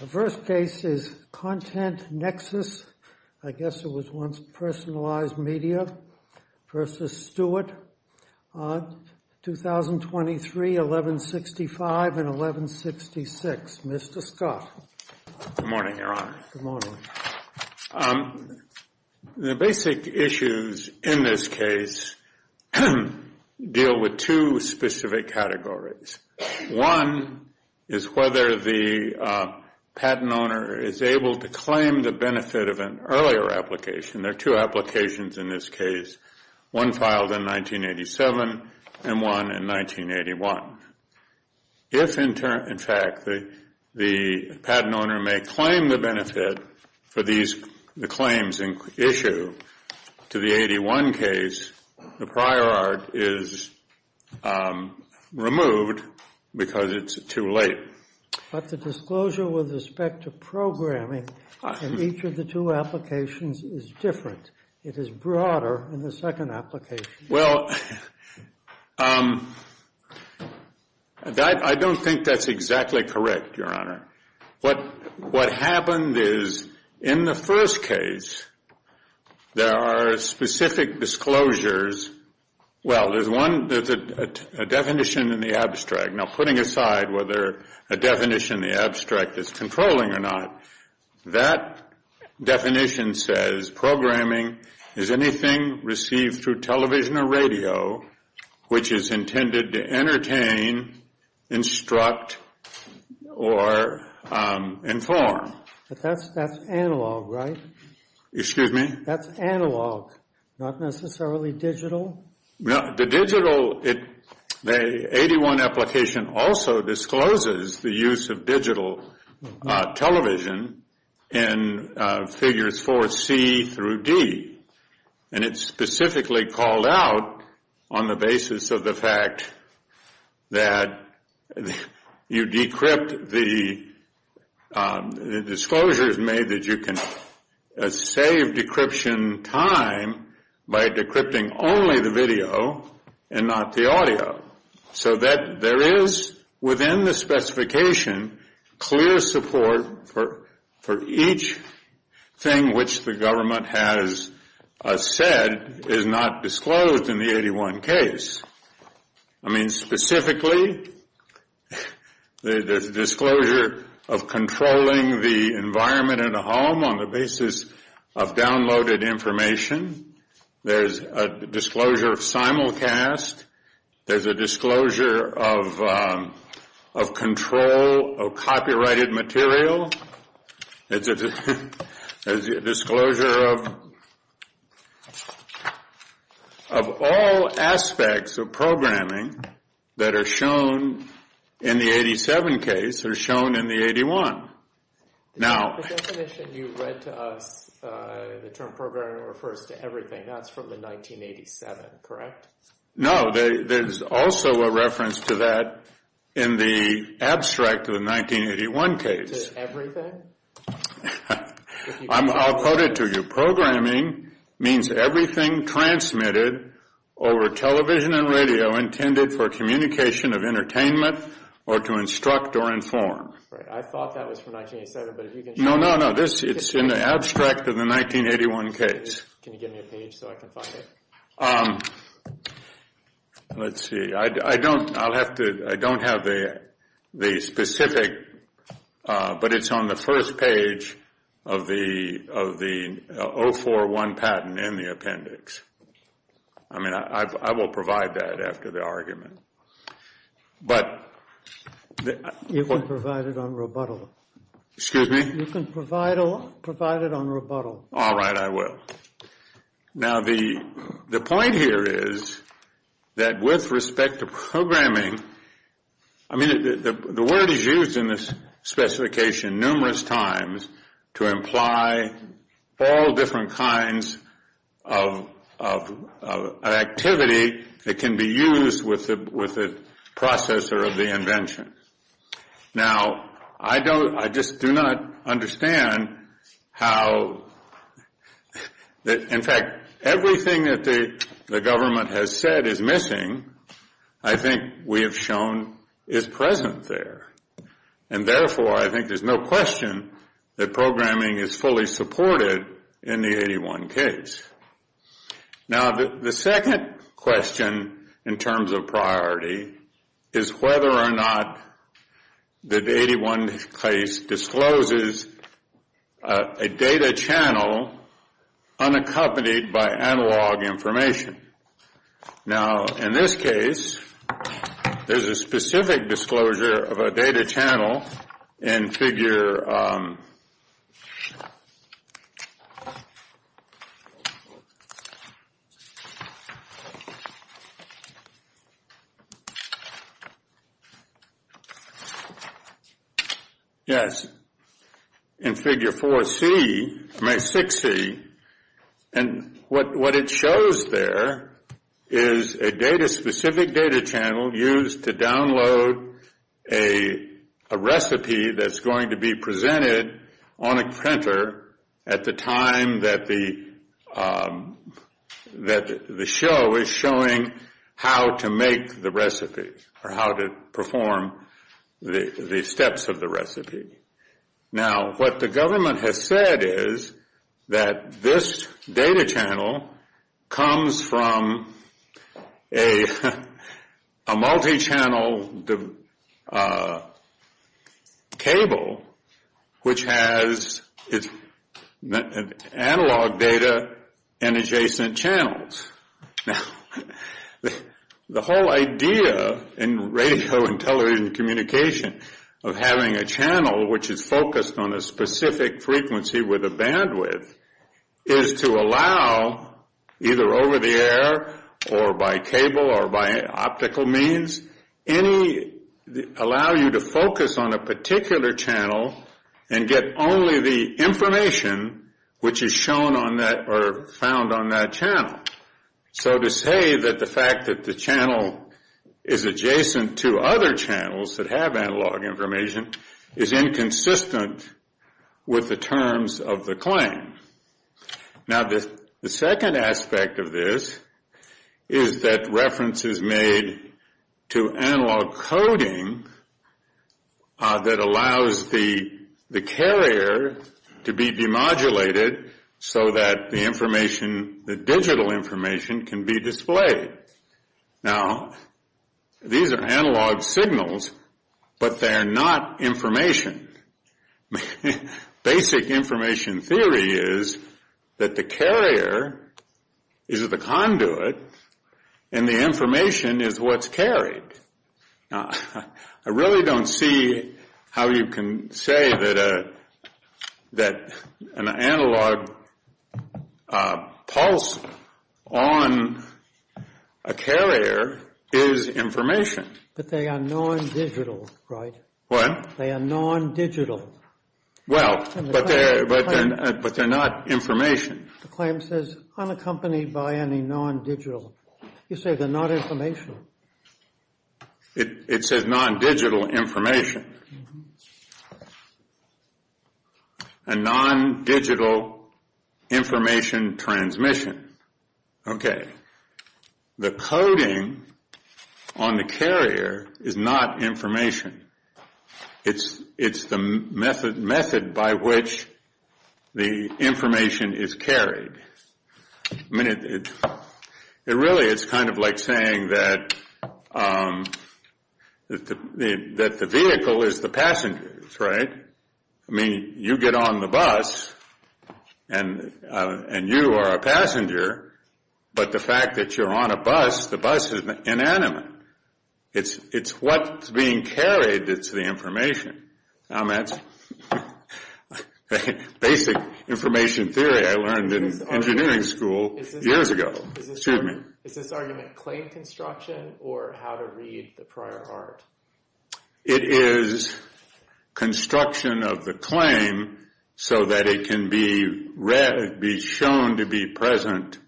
The first case is ContentNexus. I guess it was once Personalized Media v. Stewart, 2023, 1165 and 1166. Mr. Scott. Good morning, Your Honor. Good morning. The basic issues in this case deal with two specific categories. One is whether the patent owner is able to claim the benefit of an earlier application. There are two applications in this case, one filed in 1987 and one in 1981. If, in fact, the patent owner may claim the benefit for the claims in issue to the 81 case, the prior art is removed because it's too late. But the disclosure with respect to programming in each of the two applications is different. It is broader in the second application. Well, I don't think that's exactly correct, Your Honor. What happened is, in the first case, there are specific disclosures. Well, there's a definition in the abstract. Now, putting aside whether a definition in the abstract is controlling or not, that definition says programming is anything received through television or radio, which is intended to entertain, instruct, or inform. But that's analog, right? Excuse me? That's analog, not necessarily digital. The 81 application also discloses the use of digital television in figures 4C through D. And it's specifically called out on the basis of the fact that you decrypt the disclosures made that you can save decryption time by decrypting only the video and not the audio. So there is, within the specification, clear support for each thing which the government has said is not disclosed in the 81 case. I mean, specifically, there's a disclosure of controlling the environment in a home on the basis of downloaded information. There's a disclosure of simulcast. There's a disclosure of control of copyrighted material. There's a disclosure of all aspects of programming that are shown in the 87 case or shown in the 81. Now- The definition you read to us, the term programming refers to everything. That's from the 1987, correct? No, there's also a reference to that in the abstract of the 1981 case. Everything? I'll quote it to you. Programming means everything transmitted over television and radio intended for communication of entertainment or to instruct or inform. I thought that was from 1987, but if you can show me- No, no, no. It's in the abstract of the 1981 case. Can you give me a page so I can find it? Let's see. I don't have the specific, but it's on the first page of the 041 patent in the appendix. I mean, I will provide that after the argument. But- You can provide it on rebuttal. Excuse me? You can provide it on rebuttal. All right, I will. Now, the point here is that with respect to programming- I mean, the word is used in this specification numerous times to imply all different kinds of activity that can be used with the processor of the invention. Now, I just do not understand how- In fact, everything that the government has said is missing, I think we have shown is present there. And therefore, I think there's no question that programming is fully supported in the 1981 case. Now, the second question in terms of priority is whether or not the 1981 case discloses a data channel unaccompanied by analog information. Now, in this case, there's a specific disclosure of a data channel in figure- Yes. In figure 4C- I mean, 6C. And what it shows there is a data-specific data channel used to download a recipe that's going to be presented on a printer at the time that the show is showing how to make the recipe, or how to perform the steps of the recipe. Now, what the government has said is that this data channel comes from a multi-channel cable which has analog data and adjacent channels. Now, the whole idea in radio and television communication of having a channel which is focused on a specific frequency with a bandwidth is to allow, either over the air or by cable or by optical means, allow you to focus on a particular channel and get only the information which is shown on that or found on that channel. So to say that the fact that the channel is adjacent to other channels that have analog information is inconsistent with the terms of the claim. Now, the second aspect of this is that reference is made to analog coding that allows the carrier to be demodulated so that the information, the digital information, can be displayed. Now, these are analog signals, but they are not information. Basic information theory is that the carrier is the conduit and the information is what's carried. I really don't see how you can say that an analog pulse on a carrier is information. But they are non-digital, right? What? They are non-digital. Well, but they're not information. The claim says unaccompanied by any non-digital. You say they're not information. It says non-digital information. A non-digital information transmission. Okay. The coding on the carrier is not information. It's the method by which the information is carried. I mean, it really is kind of like saying that the vehicle is the passengers, right? I mean, you get on the bus and you are a passenger, but the fact that you're on a bus, the bus is inanimate. It's what's being carried that's the information. That's basic information theory I learned in engineering school years ago. Excuse me. Is this argument claim construction or how to read the prior art? It is construction of the claim so that it can be shown to be present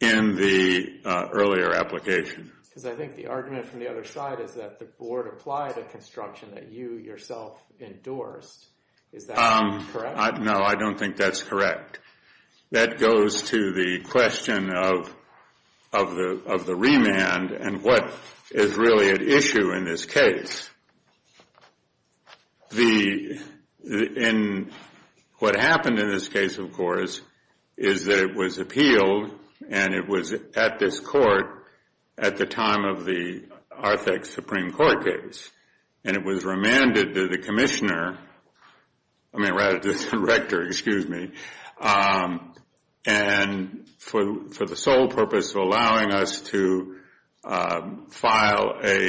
in the earlier application. Because I think the argument from the other side is that the board applied a construction that you yourself endorsed. Is that correct? No, I don't think that's correct. That goes to the question of the remand and what is really at issue in this case. What happened in this case, of course, is that it was appealed and it was at this court at the time of the Artex Supreme Court case. And it was remanded to the commissioner, I mean rather the director, excuse me, and for the sole purpose of allowing us to file a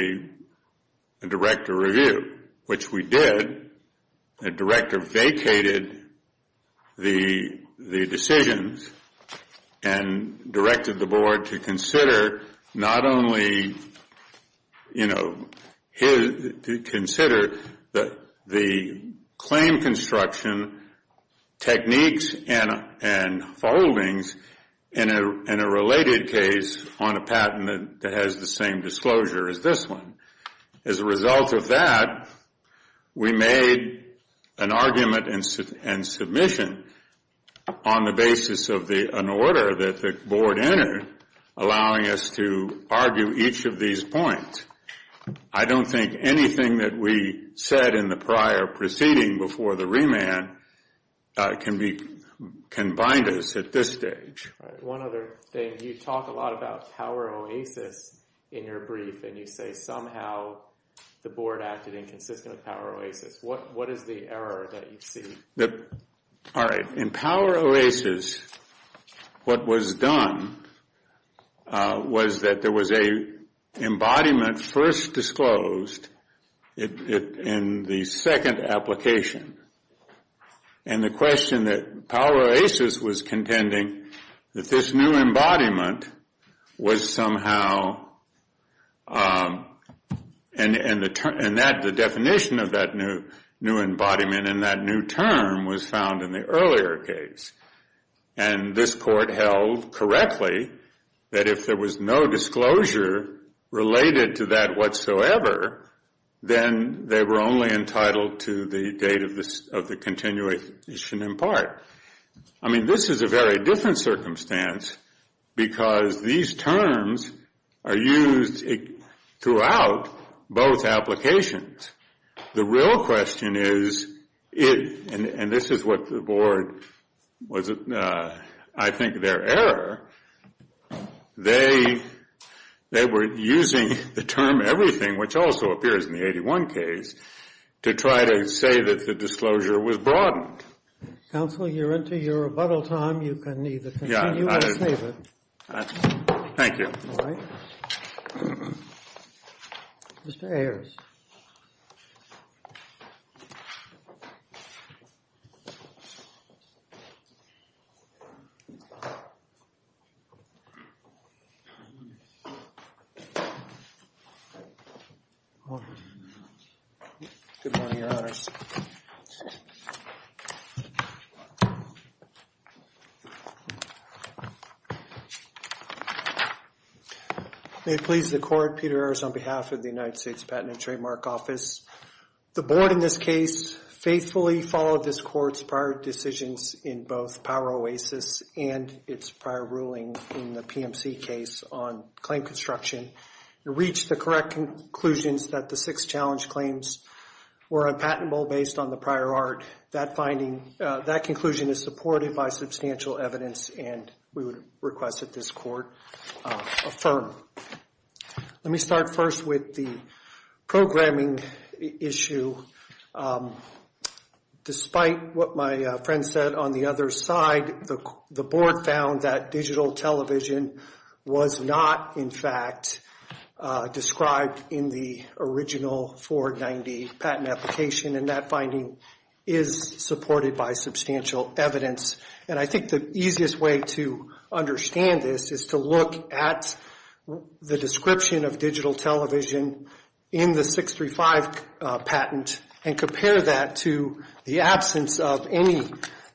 director review, which we did. The director vacated the decisions and directed the board to consider not only, you know, to consider the claim construction techniques and holdings in a related case on a patent that has the same disclosure as this one. As a result of that, we made an argument and submission on the basis of an order that the board entered, allowing us to argue each of these points. I don't think anything that we said in the prior proceeding before the remand can bind us at this stage. All right, one other thing. You talk a lot about power oasis in your brief and you say somehow the board acted inconsistent with power oasis. What is the error that you see? All right, in power oasis, what was done was that there was an embodiment first disclosed in the second application. And the question that power oasis was contending that this new embodiment was somehow, and the definition of that new embodiment and that new term was found in the earlier case. And this court held correctly that if there was no disclosure related to that whatsoever, then they were only entitled to the date of the continuation in part. I mean, this is a very different circumstance because these terms are used throughout both applications. The real question is, and this is what the board, I think their error, they were using the term everything, which also appears in the 81 case, to try to say that the disclosure was broadened. Counsel, you're into your rebuttal time. You can either continue or save it. Thank you. All right. Mr. Ayers. Good morning, Your Honors. May it please the court, Peter Ayers on behalf of the United States Patent and Trademark Office. The board in this case faithfully followed this court's prior decisions in both power oasis and its prior ruling in the PMC case on claim construction and reached the correct conclusions that the six challenge claims were unpatentable based on the prior art. That conclusion is supported by substantial evidence, and we would request that this court affirm. Let me start first with the programming issue. Despite what my friend said on the other side, the board found that digital television was not, in fact, described in the original 490 patent application, and that finding is supported by substantial evidence. And I think the easiest way to understand this is to look at the description of digital television in the 635 patent and compare that to the absence of any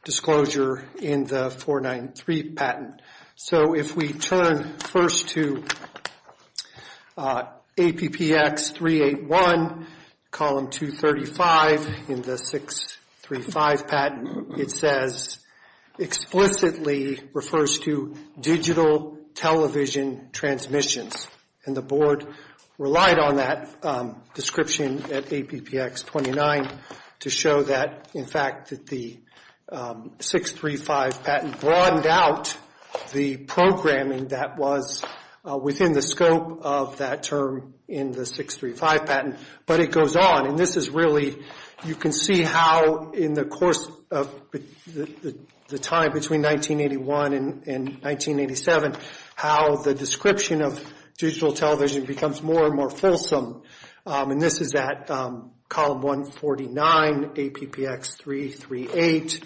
disclosure in the 493 patent. So if we turn first to APPX 381, column 235 in the 635 patent, it says explicitly refers to digital television transmissions. And the board relied on that description at APPX 29 to show that, in fact, that the 635 patent broadened out the programming that was within the scope of that term in the 635 patent. But it goes on, and this is really you can see how in the course of the time between 1981 and 1987, how the description of digital television becomes more and more fulsome. And this is at column 149, APPX 338.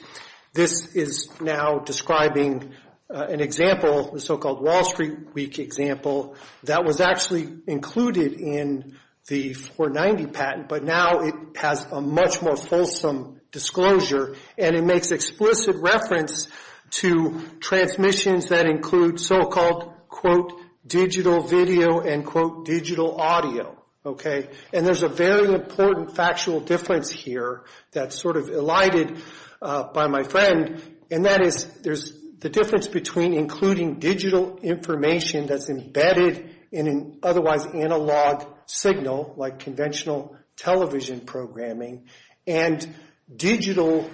This is now describing an example, the so-called Wall Street Week example, that was actually included in the 490 patent, but now it has a much more fulsome disclosure, and it makes explicit reference to transmissions that include so-called, quote, digital video and, quote, digital audio, okay? And there's a very important factual difference here that's sort of elided by my friend, and that is there's the difference between including digital information that's embedded in an otherwise analog signal, like conventional television programming, and digital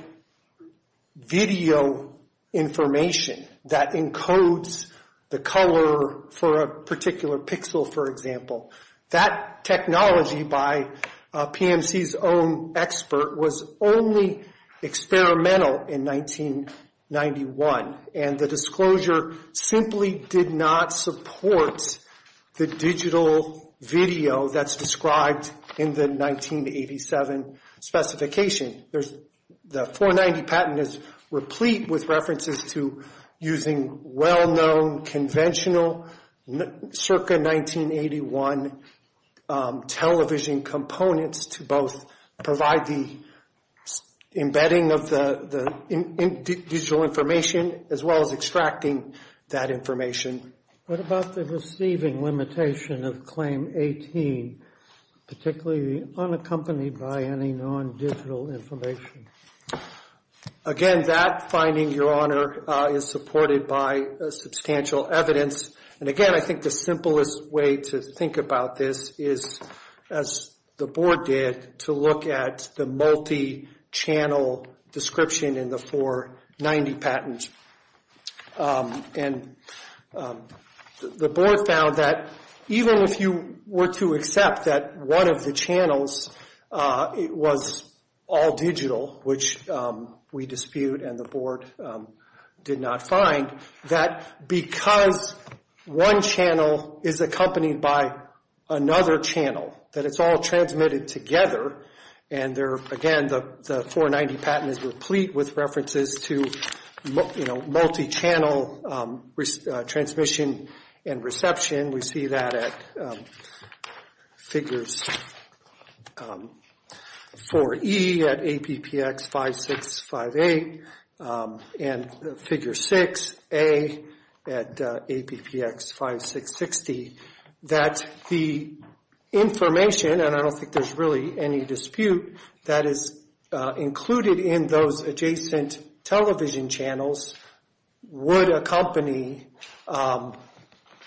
video information that encodes the color for a particular pixel, for example. That technology, by PMC's own expert, was only experimental in 1991, and the disclosure simply did not support the digital video that's described in the 1987 specification. The 490 patent is replete with references to using well-known conventional circa 1981 television components to both provide the embedding of the digital information as well as extracting that information. What about the receiving limitation of Claim 18, particularly unaccompanied by any non-digital information? Again, that finding, Your Honor, is supported by substantial evidence. And again, I think the simplest way to think about this is, as the board did, to look at the multi-channel description in the 490 patent. And the board found that even if you were to accept that one of the channels was all digital, which we dispute and the board did not find, that because one channel is accompanied by another channel, that it's all transmitted together, and again, the 490 patent is replete with references to multi-channel transmission and reception. We see that at figures 4E at APPX 5658 and figure 6A at APPX 5660, that the information, and I don't think there's really any dispute, that is included in those adjacent television channels would accompany or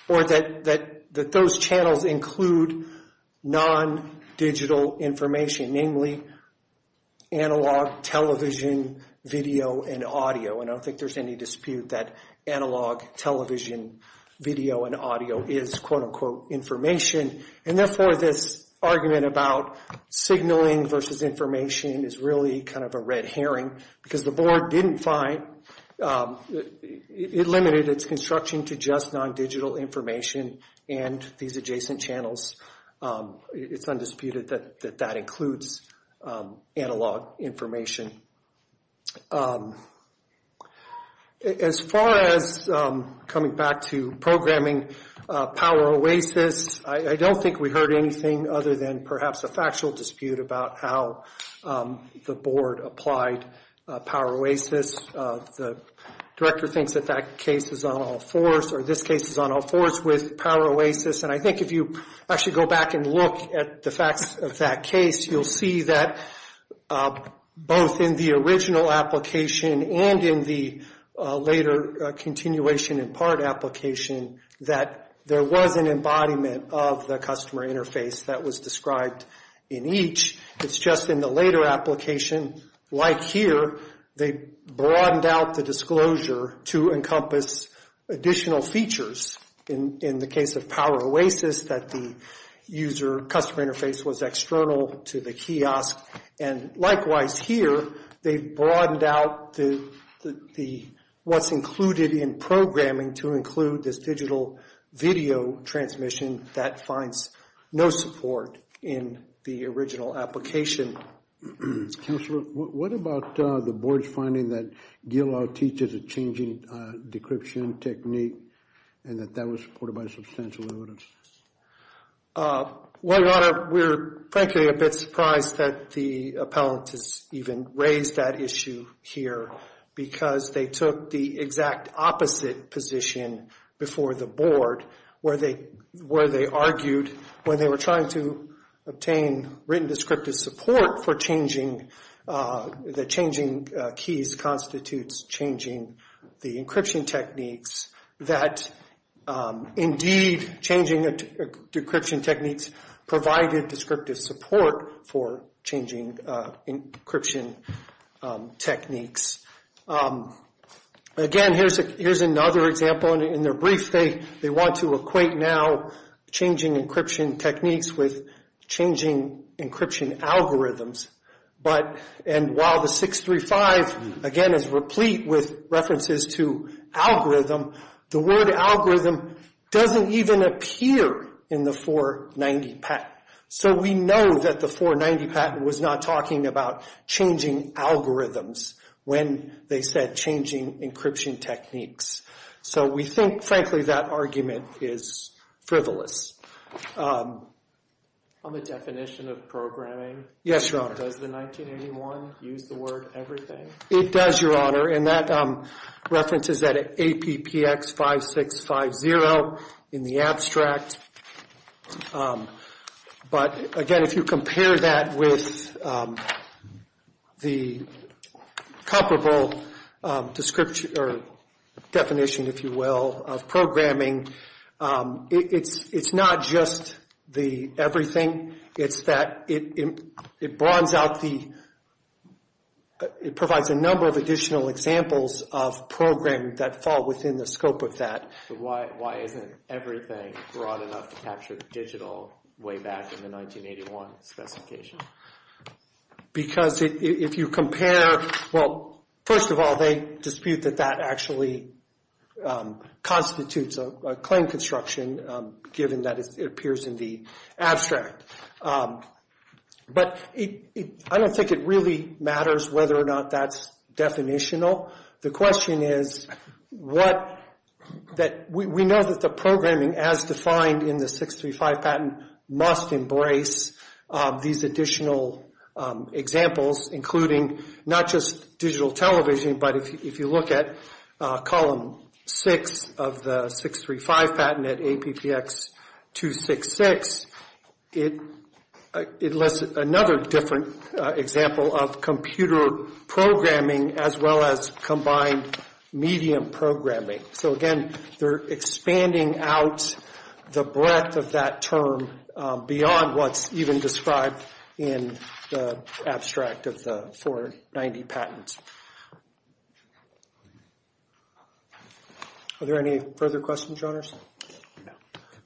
that those channels include non-digital information, namely analog television, video, and audio. And I don't think there's any dispute that analog television, video, and audio is quote-unquote information. And therefore, this argument about signaling versus information is really kind of a red herring, because the board didn't find, it limited its construction to just non-digital information and these adjacent channels. It's undisputed that that includes analog information. As far as coming back to programming power oasis, I don't think we heard anything other than perhaps a factual dispute about how the board applied power oasis. The director thinks that that case is on all fours, or this case is on all fours with power oasis. And I think if you actually go back and look at the facts of that case, you'll see that both in the original application and in the later continuation in part application, that there was an embodiment of the customer interface that was described in each. It's just in the later application, like here, they broadened out the disclosure to encompass additional features. In the case of power oasis, that the user customer interface was external to the kiosk. And likewise here, they've broadened out what's included in programming to include this digital video transmission that finds no support in the original application. Counselor, what about the board's finding that GILA teaches a changing decryption technique and that that was supported by substantial evidence? Well, Rana, we're frankly a bit surprised that the appellant has even raised that issue here because they took the exact opposite position before the board, where they argued when they were trying to obtain written descriptive support for changing, the changing keys constitutes changing the encryption techniques, that indeed changing decryption techniques provided descriptive support for changing encryption techniques. Again, here's another example. In their brief, they want to equate now changing encryption techniques with changing encryption algorithms. And while the 635, again, is replete with references to algorithm, the word algorithm doesn't even appear in the 490 patent. So we know that the 490 patent was not talking about changing algorithms when they said changing encryption techniques. So we think, frankly, that argument is frivolous. On the definition of programming? Yes, Your Honor. Does the 1981 use the word everything? It does, Your Honor, and that reference is at APPX 5650 in the abstract. But again, if you compare that with the comparable definition, if you will, of programming, it's not just the everything. It's that it bronze out the, it provides a number of additional examples of programming that fall within the scope of that. But why isn't everything broad enough to capture digital way back in the 1981 specification? Because if you compare, well, first of all, they dispute that that actually constitutes a claim construction, given that it appears in the abstract. But I don't think it really matters whether or not that's definitional. The question is what, that we know that the programming as defined in the 635 patent must embrace these additional examples, including not just digital television, but if you look at Column 6 of the 635 patent at APPX 266, it lists another different example of computer programming as well as combined medium programming. So again, they're expanding out the breadth of that term beyond what's even described in the abstract of the 490 patent. Are there any further questions, Your Honors?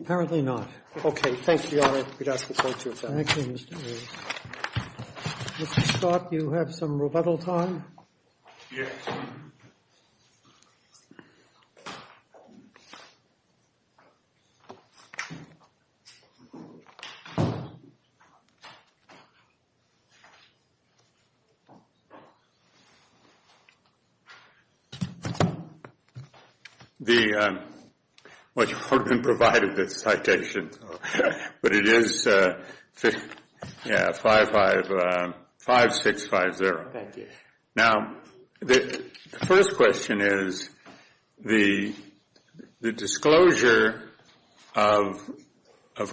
Apparently not. Okay. Thank you, Your Honor. We'd ask the Court to adjourn. Thank you, Mr. Wray. Mr. Scott, do you have some rebuttal time? Yes. The, well, you haven't provided the citation, but it is, yeah, 5650. Thank you. Now, the first question is the disclosure of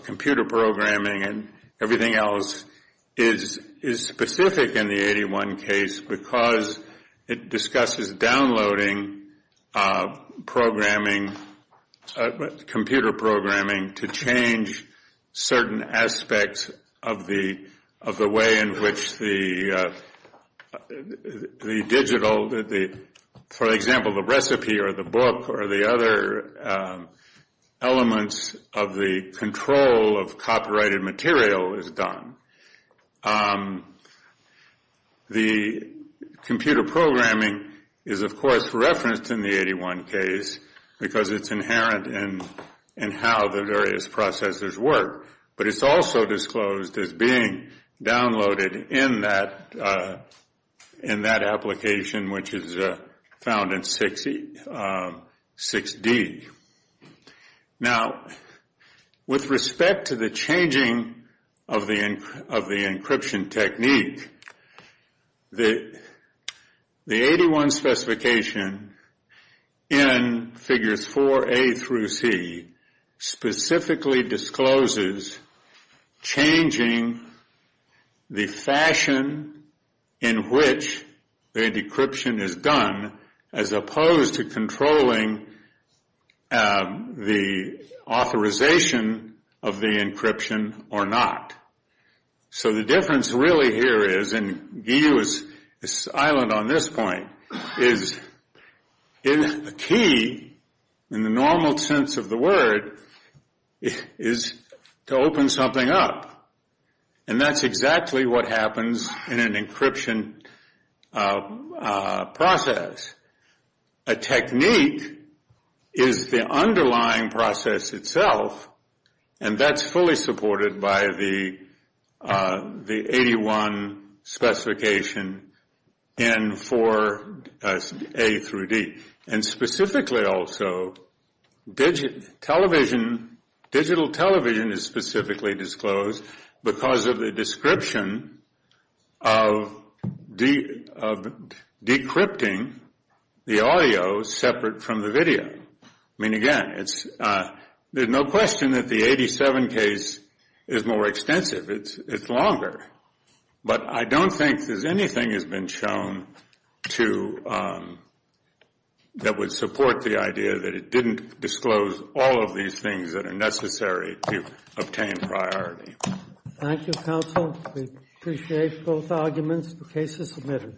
computer programming and everything else is specific in the 81 case because it discusses downloading programming, computer programming to change certain aspects of the way in which the digital, for example, the recipe or the book or the other elements of the control of copyrighted material is done. The computer programming is, of course, referenced in the 81 case because it's inherent in how the various processors work, but it's also disclosed as being downloaded in that application which is found in 6D. Now, with respect to the changing of the encryption technique, the 81 specification in figures 4A through C specifically discloses changing the fashion in which the encryption is done as opposed to controlling the authorization of the encryption or not. So the difference really here is, and Guy is silent on this point, is the key in the normal sense of the word is to open something up, and that's exactly what happens in an encryption process. A technique is the underlying process itself, and that's fully supported by the 81 specification in 4A through D. And specifically also, digital television is specifically disclosed because of the description of decrypting the audio separate from the video. I mean, again, there's no question that the 87 case is more extensive. It's longer. But I don't think there's anything that's been shown that would support the idea that it didn't disclose all of these things that are necessary to obtain priority. Thank you, counsel. We appreciate both arguments. The case is submitted.